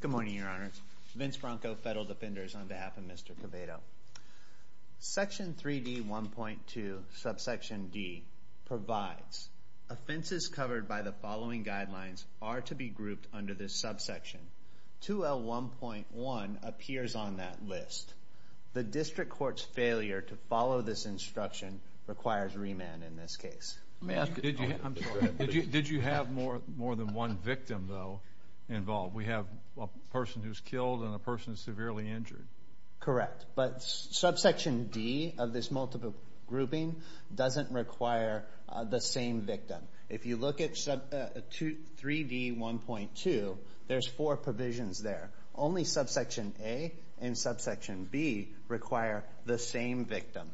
Good morning, your honors. Vince Bronco, Federal Defenders, on behalf of Mr. Quevedo. Section 3D, 1.2, subsection D, provides offenses covered by the following guidelines are to be grouped under this subsection. 2L1.1 appears on that list. The district court's failure to follow this instruction requires remand in this case. Did you have more than one victim involved? We have a person who's killed and a person who's severely injured. Correct, but subsection D of this multiple grouping doesn't require the same victim. If you look at 3D, 1.2, there's four provisions there. Only subsection A and subsection B require the same victim.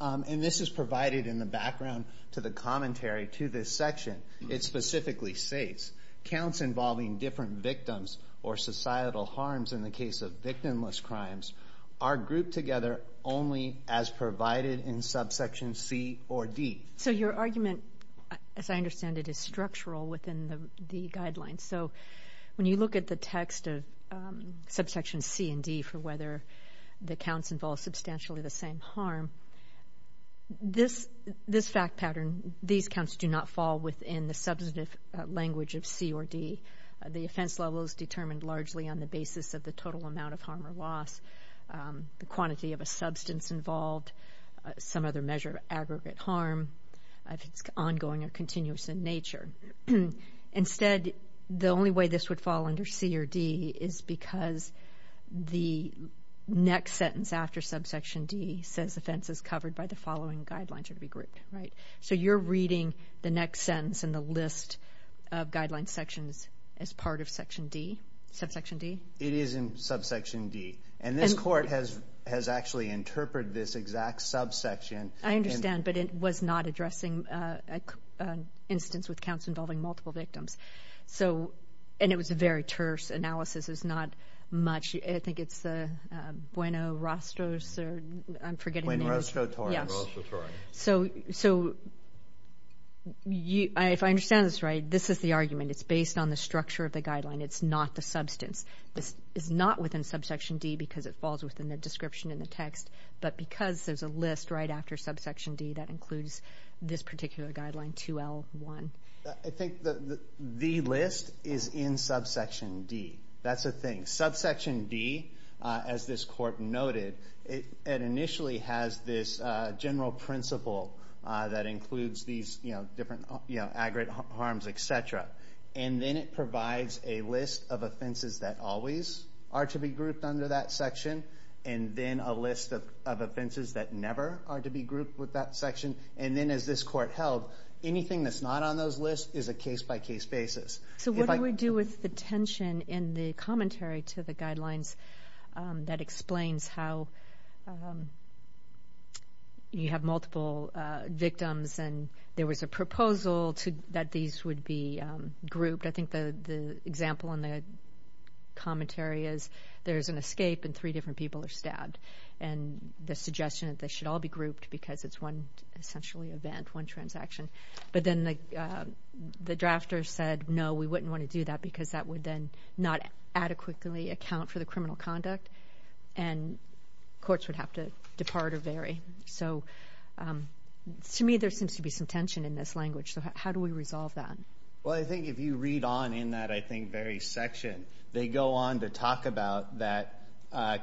And this is provided in the background to the commentary to this section. It specifically states counts involving different victims or societal harms in the case of victimless crimes are grouped together only as provided in subsection C or D. So your argument, as I understand it, is structural within the guidelines. So when you look at the text of subsection C and D for whether the counts involve substantially the same harm, this fact pattern, these counts do not fall within the substantive language of C or D. The offense level is determined largely on the basis of the total amount of harm or ongoing or continuous in nature. Instead, the only way this would fall under C or D is because the next sentence after subsection D says offense is covered by the following guidelines of every group. So you're reading the next sentence in the list of guidelines sections as part of subsection D? It is in subsection D. And this court has actually interpreted this exact subsection. I understand, but it was not addressing an instance with counts involving multiple victims. So, and it was a very terse analysis. It's not much. I think it's the Bueno Rostros or I'm forgetting the name. Rostrotori. Yes. So if I understand this right, this is the argument. It's based on the structure of the guideline. It's not the substance. It's not within subsection D because it falls within the description in the text, but because there's a list right after subsection D that includes this particular guideline 2L1. I think the list is in subsection D. That's a thing. Subsection D, as this court noted, it initially has this general principle that includes these different aggregate harms, etc. And then it provides a list of offenses that always are to be grouped under that section. And then a list of offenses that never are to be grouped with that section. And then as this court held, anything that's not on those lists is a case-by-case basis. So what do we do with the tension in the commentary to the guidelines that explains how you have multiple victims and there was a proposal that these would be grouped. I think the example in the commentary is there's an escape and three different people are stabbed. And the suggestion that they should all be grouped because it's one, essentially, event, one transaction. But then the drafter said, no, we wouldn't want to do that because that would then not adequately account for the criminal conduct and courts would have to depart or vary. So to me there seems to be some tension in this language. So how do we resolve that? Well, I think if you read on in that, I think, very section, they go on to talk about that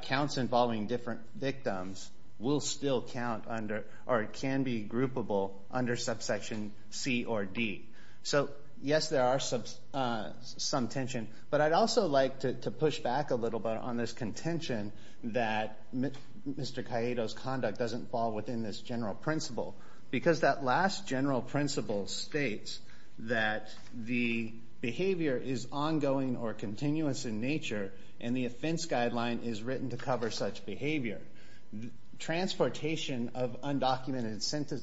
counts involving different victims will still count under or can be groupable under subsection C or D. So, yes, there are some tension. But I'd also like to push back a little bit on this contention that Mr. Cayedo's conduct doesn't fall within this general principle. Because that last general principle states that the behavior is ongoing or continuous in nature and the offense guideline is written to cover such behavior. Transportation of undocumented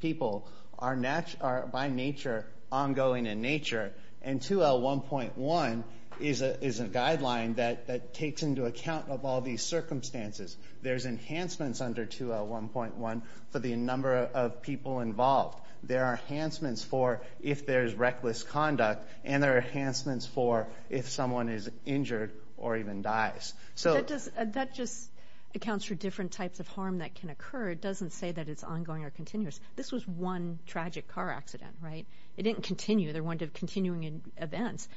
people are by nature ongoing in nature and 2L1.1 is a guideline that takes into account of all these circumstances. There's enhancements under 2L1.1 for the number of people involved. There are enhancements for if there's reckless conduct and there are enhancements for if someone is injured or even dies. So that just accounts for different types of harm that can occur. It doesn't say that it's ongoing or continuous. This was one tragic car accident, right? It didn't continue. There weren't continuing events.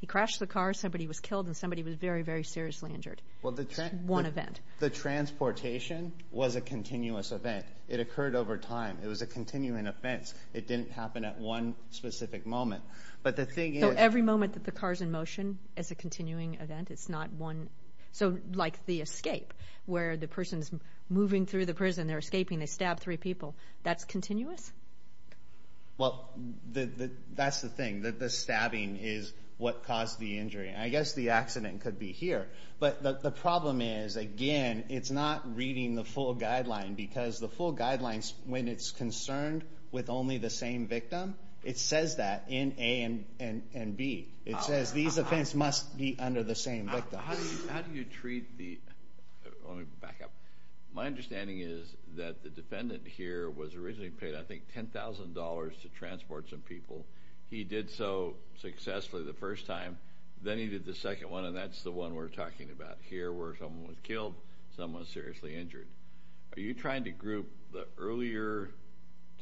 He crashed the car. Somebody was killed and somebody was very, very seriously injured. That's one event. The transportation was a continuous event. It occurred over time. It was a continuing offense. It didn't happen at one specific moment. But the thing is... So every moment that the car's in motion is a continuing event. It's not one... So like the escape where the person's moving through the prison. They're escaping. They stab three people. That's continuous? Well, that's the thing. The stabbing is what caused the injury. I guess the accident could be here. But the problem is, again, it's not reading the full guideline. Because the full guidelines, when it's concerned with only the same victim, it says that in A and B. It says these offense must be under the same victim. How do you treat the... Let me back up. My understanding is that the defendant here was originally paid, I think, $10,000 to transport some people. He did so successfully the first time. Then he did the second one, and that's the one we're talking about here, where someone was killed, someone was seriously injured. Are you trying to group the earlier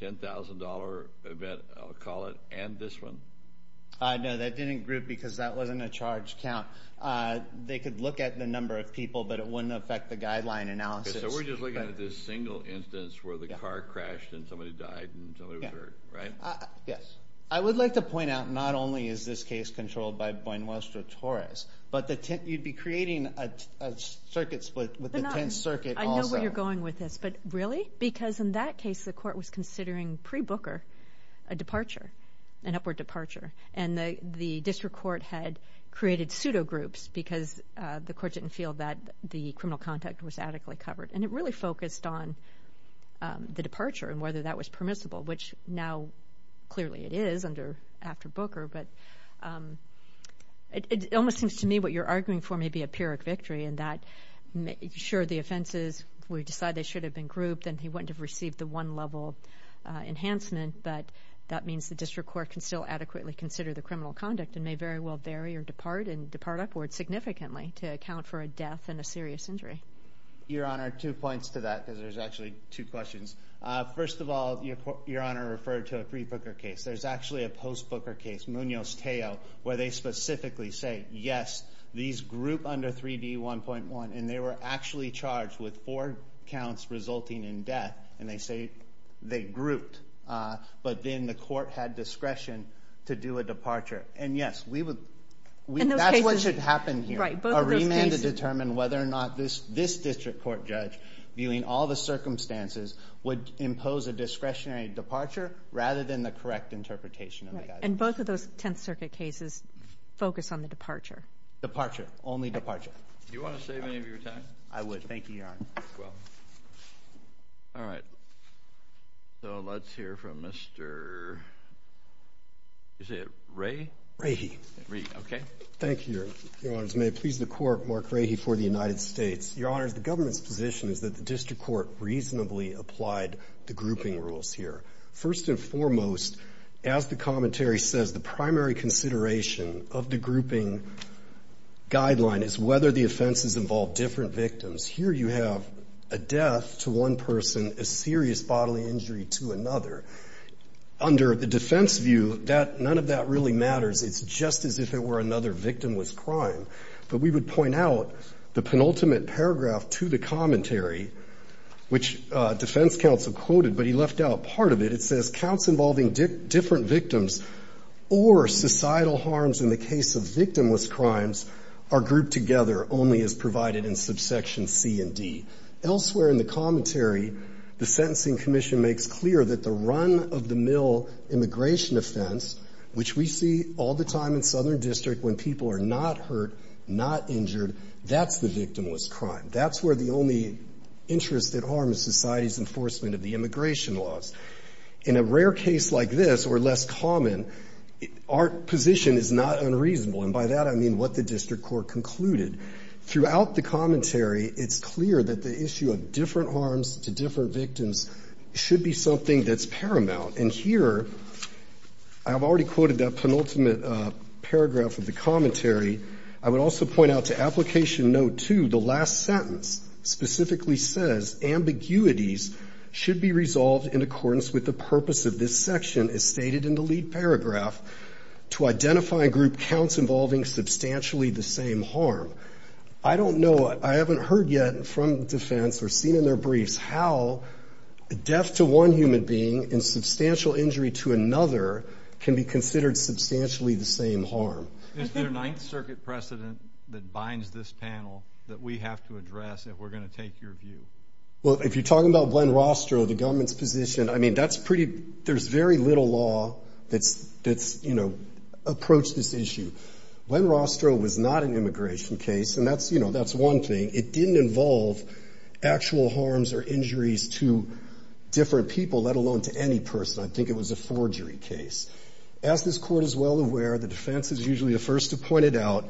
$10,000 event, I'll call it, and this one? No, that didn't group because that wasn't a charge count. They could look at the number of people, but it wouldn't affect the guideline analysis. So we're just looking at this single instance where the car crashed, and somebody died, and somebody was hurt, right? Yes. I would like to point out, not only is this case controlled by Buenos Aires Torres, but you'd be creating a circuit split with the 10th Circuit also. I know where you're going with this, but really? Because in that case, the court was considering pre-Booker a departure, an upward departure, and the district court had created pseudo groups because the court didn't feel that the criminal conduct was adequately covered. And it really focused on the departure and whether that was permissible, which now clearly it is after Booker. But it almost seems to me what you're arguing for may be a Pyrrhic victory in that, sure, the offenses, we decide they should have been grouped, and he wouldn't have received the one-level enhancement, but that means the district court can still adequately consider the criminal conduct and may very well vary or depart and depart upward significantly to account for a death and a serious injury. Your Honor, two points to that because there's actually two questions. First of all, Your Honor referred to a pre-Booker case. There's actually a post-Booker case, Munoz-Teo, where they specifically say, yes, these group under 3D1.1, and they were actually charged with four counts resulting in death, and they say they grouped. But then the court had discretion to do a departure. And yes, that's what should happen here. A remand to determine whether or not this district court judge, viewing all the circumstances, would impose a discretionary departure rather than the correct interpretation of the guidance. And both of those Tenth Circuit cases focus on the departure. Departure, only departure. Do you want to save any of your time? I would. Thank you, Your Honor. Well, all right. So let's hear from Mr. is it Ray? Rahy. Okay. Thank you, Your Honors. May it please the Court, Mark Rahy for the United States. Your Honors, the government's position is that the district court reasonably applied the grouping rules here. First and foremost, as the commentary says, the primary consideration of the grouping guideline is whether the offenses involve different victims. Here you have a death to one person, a serious bodily injury to another. Under the defense view, none of that really matters. It's just as if it were another victimless crime. But we would point out the penultimate paragraph to the commentary, which defense counsel quoted, but he left out part of it. It says counts involving different victims or societal harms in the case of victimless crimes are grouped together only as provided in subsection C and D. Elsewhere in the commentary, the Sentencing Commission makes clear that the run-of-the-mill immigration offense, which we see all the time in Southern District when people are not hurt, not injured, that's the victimless crime. That's where the only interest at harm is society's enforcement of the immigration laws. In a rare case like this or less common, our position is not unreasonable. And by that, I mean what the district court concluded. Throughout the commentary, it's clear that the issue of different harms to different victims should be something that's paramount. And here, I have already quoted that penultimate paragraph of the commentary. I would also point out to application note two, the last sentence specifically says ambiguities should be resolved in accordance with the purpose of this section as stated in the lead paragraph to identify group counts involving substantially the same harm. I don't know, I haven't heard yet from defense or seen in their briefs how death to one human being and substantial injury to another can be considered substantially the same harm. Is there a Ninth Circuit precedent that binds this panel that we have to address if we're going to take your view? Well, if you're talking about Glenn Rostro, the government's position, I mean, that's pretty, there's very little law that's, you know, approach this issue. Glenn Rostro was not an immigration case. And that's, you know, that's one thing. It didn't involve actual harms or injuries to different people, let alone to any person. I think it was a forgery case. As this Court is well aware, the defense is usually the first to point it out.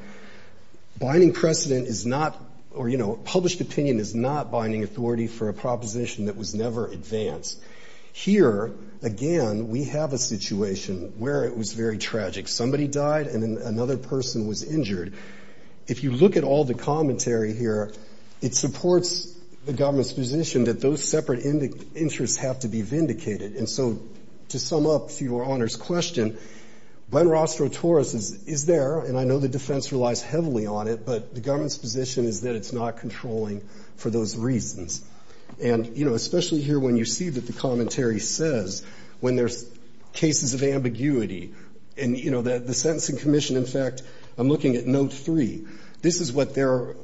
Binding precedent is not, or, you know, published opinion is not binding authority for a proposition that was never advanced. Here, again, we have a situation where it was very tragic. Somebody died and then another person was injured. If you look at all the commentary here, it supports the government's position that those separate interests have to be vindicated. And so, to sum up your Honor's question, Glenn Rostro-Torres is there, and I know the defense relies heavily on it, but the government's position is that it's not controlling for those reasons. And, you know, especially here when you see that the commentary says, when there's cases of ambiguity and, you know, the Sentencing Commission, in fact, I'm looking at Note 3, this is what they're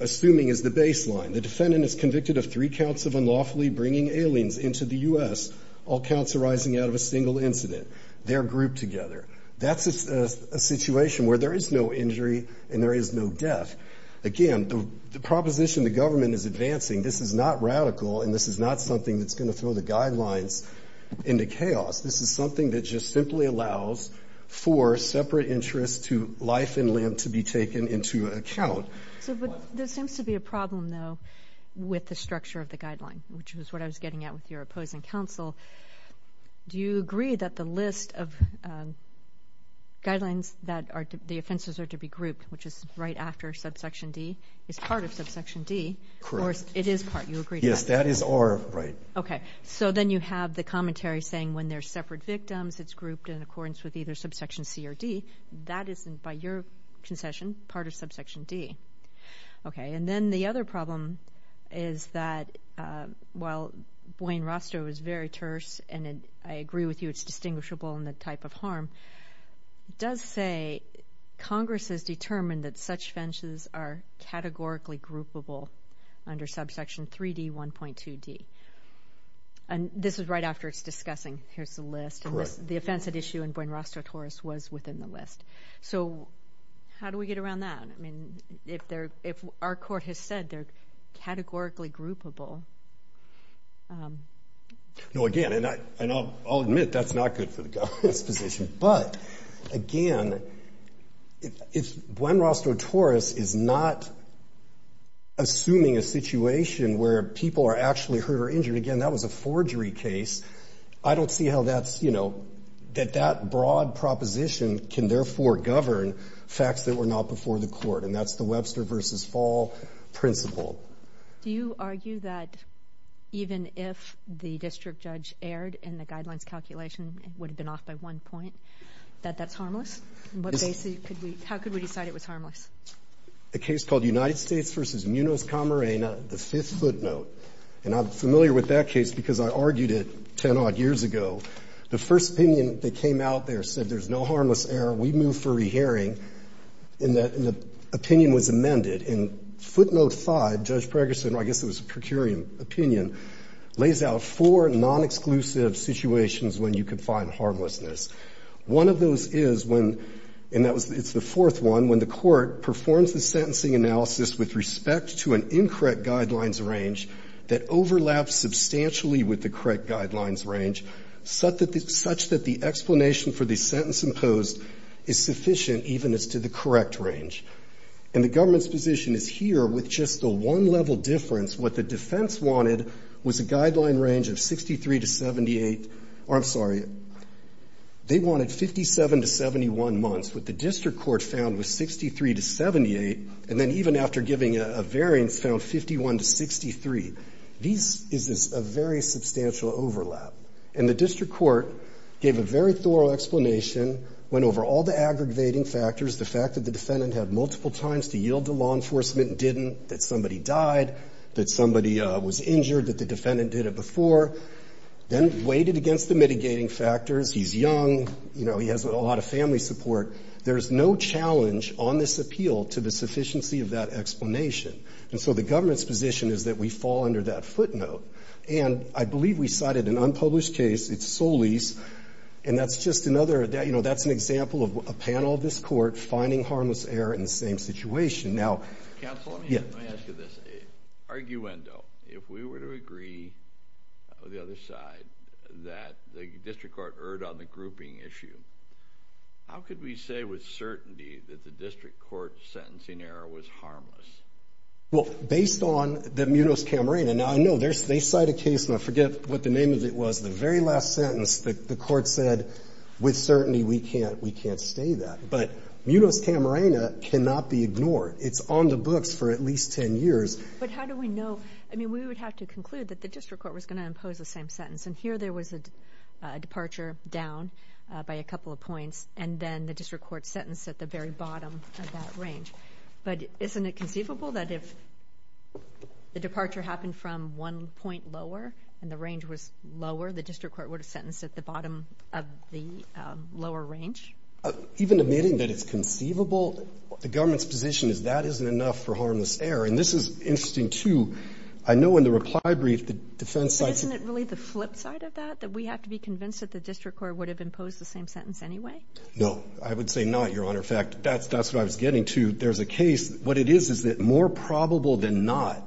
assuming is the baseline. The defendant is convicted of three counts of unlawfully bringing aliens into the U.S., all counts arising out of a single incident. They're grouped together. That's a situation where there is no injury and there is no death. Again, the proposition the government is advancing, this is not radical and this is not something that's going to throw the guidelines into chaos. This is something that just simply allows for separate interests to life and limb to be accounted. So, there seems to be a problem, though, with the structure of the guideline, which is what I was getting at with your opposing counsel. Do you agree that the list of guidelines that the offenses are to be grouped, which is right after subsection D, is part of subsection D? Correct. Or it is part, you agree? Yes, that is or right. Okay, so then you have the commentary saying when there's separate victims, it's grouped in accordance with either subsection C or D. That isn't, by your concession, part of subsection D. Okay, and then the other problem is that, while Buen Rostro is very terse, and I agree with you it's distinguishable in the type of harm, it does say Congress has determined that such offenses are categorically groupable under subsection 3D, 1.2D. And this is right after it's discussing, here's the list, the offense at issue in Buen Rostro Torres was within the list. So how do we get around that? I mean, if our court has said they're categorically groupable... No, again, and I'll admit that's not good for the government's position, but again, if Buen Rostro Torres is not assuming a situation where people are actually hurt or injured, again, that was a forgery case, I don't see how that's, you know, that that broad proposition can therefore govern facts that were not before the court. And that's the Webster versus Fall principle. Do you argue that even if the district judge erred and the guidelines calculation would have been off by one point, that that's harmless? How could we decide it was harmless? A case called United States v. Munoz Camarena, the fifth footnote, and I'm familiar with that case because I argued it 10 odd years ago, the first opinion that came out there said there's no harmless error, we move for rehearing, and the opinion was amended. And footnote five, Judge Pregerson, I guess it was a per curiam opinion, lays out four non-exclusive situations when you can find harmlessness. One of those is when, and that was, it's the fourth one, when the court performs the sentencing analysis with respect to an incorrect guidelines range that overlaps substantially with the correct guidelines range, such that the explanation for the sentence imposed is sufficient even as to the correct range. And the government's position is here, with just a one-level difference, what the defense wanted was a guideline range of 63 to 78, or I'm sorry, they wanted 57 to 71 months. What the district court found was 63 to 78, and then even after giving a variance, found 51 to 63. This is a very substantial overlap. And the district court gave a very thorough explanation, went over all the aggravating factors, the fact that the defendant had multiple times to yield to law enforcement and didn't, that somebody died, that somebody was injured, that the defendant did it before, then weighted against the mitigating factors, he's young, you know, he has a lot of family support. There's no challenge on this appeal to the sufficiency of that So the government's position is that we fall under that footnote. And I believe we cited an unpublished case, it's Solis, and that's just another, you know, that's an example of a panel of this court finding harmless error in the same situation. Now, yeah, arguendo. If we were to agree with the other side that the district court erred on the grouping issue, how could we say with certainty that the district court sentencing error was harmless? Well, based on the Munoz-Camarena, and I know they cite a case, and I forget what the name of it was, the very last sentence that the court said, with certainty, we can't, we can't stay that. But Munoz- Camarena cannot be ignored. It's on the books for at least 10 years. But how do we know? I mean, we would have to conclude that the district court was going to impose the same sentence. And here there was a departure down by a couple of points, and then the district court sentenced at the very bottom of that range. But isn't it conceivable that if the departure happened from one point lower, and the range was lower, the district court would have sentenced at the bottom of the lower range? Even admitting that it's conceivable, the government's position is that isn't enough for harmless error. And this is interesting, too. I know in the reply brief, the defense side... But isn't it really the flip side of that, that we have to be convinced that the district court would have imposed the same sentence anyway? No, I would say not, Your Honor. In fact, that's what I was getting to. There's a case, what it is, is that more probable than not,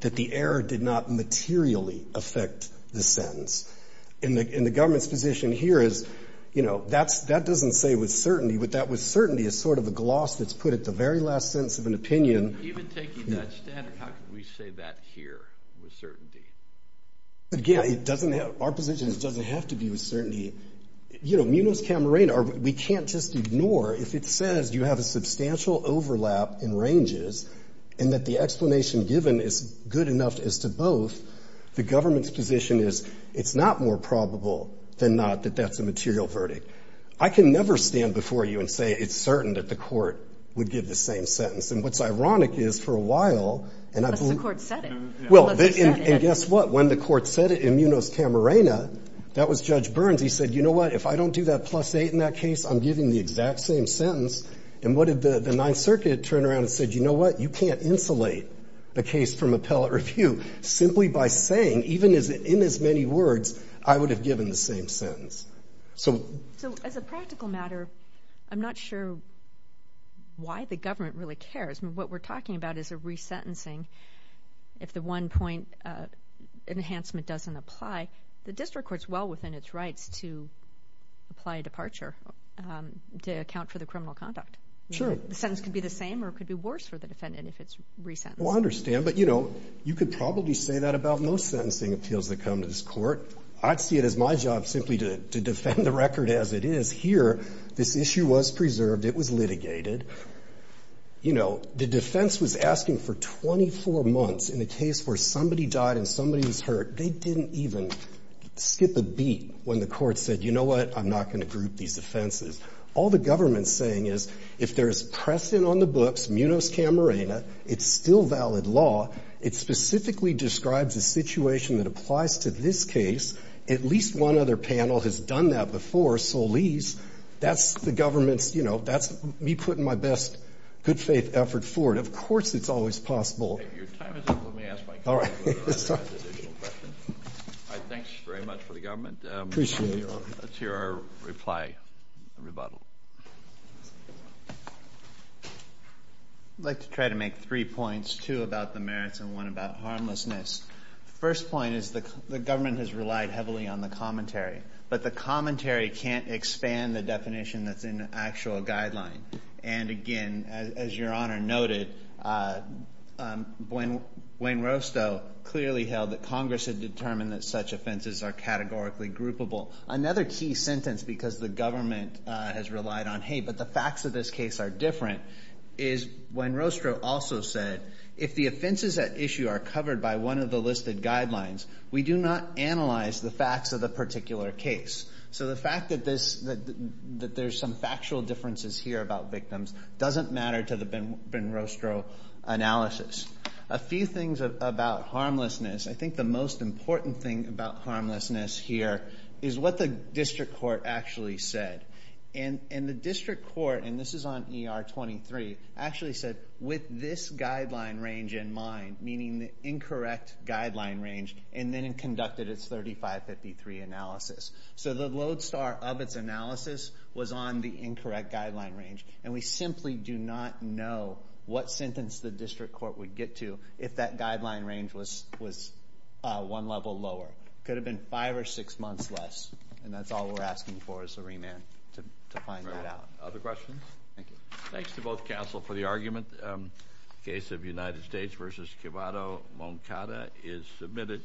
that the error did not materially affect the sentence. And the government's position here is, you know, that doesn't say with certainty, but that with certainty is sort of a gloss that's put at the very last sentence of an opinion. Even taking that standard, how could we say that here, with certainty? Again, it doesn't have, our position doesn't have to be with certainty. You know, Munoz-Camarena, we can't just ignore, if it says you have a substantial overlap in ranges and that the explanation given is good enough as to both, the government's position is it's not more probable than not that that's a material verdict. I can never stand before you and say it's certain that the court would give the same sentence. And what's ironic is, for a while... Unless the court said it. Well, and guess what? When the court said it in Judge Burns, he said, you know what, if I don't do that plus eight in that case, I'm giving the exact same sentence. And what did the Ninth Circuit turn around and said, you know what, you can't insulate the case from appellate review simply by saying, even as in as many words, I would have given the same sentence. So as a practical matter, I'm not sure why the government really cares. What we're talking about is a resentencing. If the one-point enhancement doesn't apply, the court has rights to apply a departure to account for the criminal conduct. Sure. The sentence could be the same or it could be worse for the defendant if it's resentenced. Well, I understand. But, you know, you could probably say that about most sentencing appeals that come to this court. I'd see it as my job simply to defend the record as it is. Here, this issue was preserved. It was litigated. You know, the defense was asking for 24 months in a case where somebody died and somebody was hurt. They didn't even skip a beat when the court said, you know what, I'm not going to group these offenses. All the government's saying is, if there's press in on the books, munos camerina, it's still valid law. It specifically describes a situation that applies to this case. At least one other panel has done that before, Solis. That's the government's, you know, that's me putting my best good faith effort forward. Of course it's always possible. Your time is up. Let me ask my question. All right. Thanks very much for the government. Appreciate it. Let's hear our reply, rebuttal. I'd like to try to make three points, two about the merits and one about harmlessness. First point is the government has relied heavily on the commentary, but the commentary can't expand the definition that's in the actual guideline. And again, as your point, Wayne Rostow clearly held that Congress had determined that such offenses are categorically groupable. Another key sentence, because the government has relied on, hey, but the facts of this case are different, is Wayne Rostow also said, if the offenses at issue are covered by one of the listed guidelines, we do not analyze the facts of the particular case. So the fact that there's some factual differences here about victims doesn't matter to the Ben Rostow analysis. A few things about harmlessness. I think the most important thing about harmlessness here is what the district court actually said. And the district court, and this is on ER 23, actually said with this guideline range in mind, meaning the incorrect guideline range, and then it conducted its 3553 analysis. So the lodestar of its analysis was on the incorrect guideline range, and we simply do not know what sentence the district court would get to if that guideline range was one level lower. Could have been five or six months less, and that's all we're asking for as a remand, to find that out. Other questions? Thank you. Thanks to both counsel for the argument. Case of United States versus Cubado-Moncada is submitted.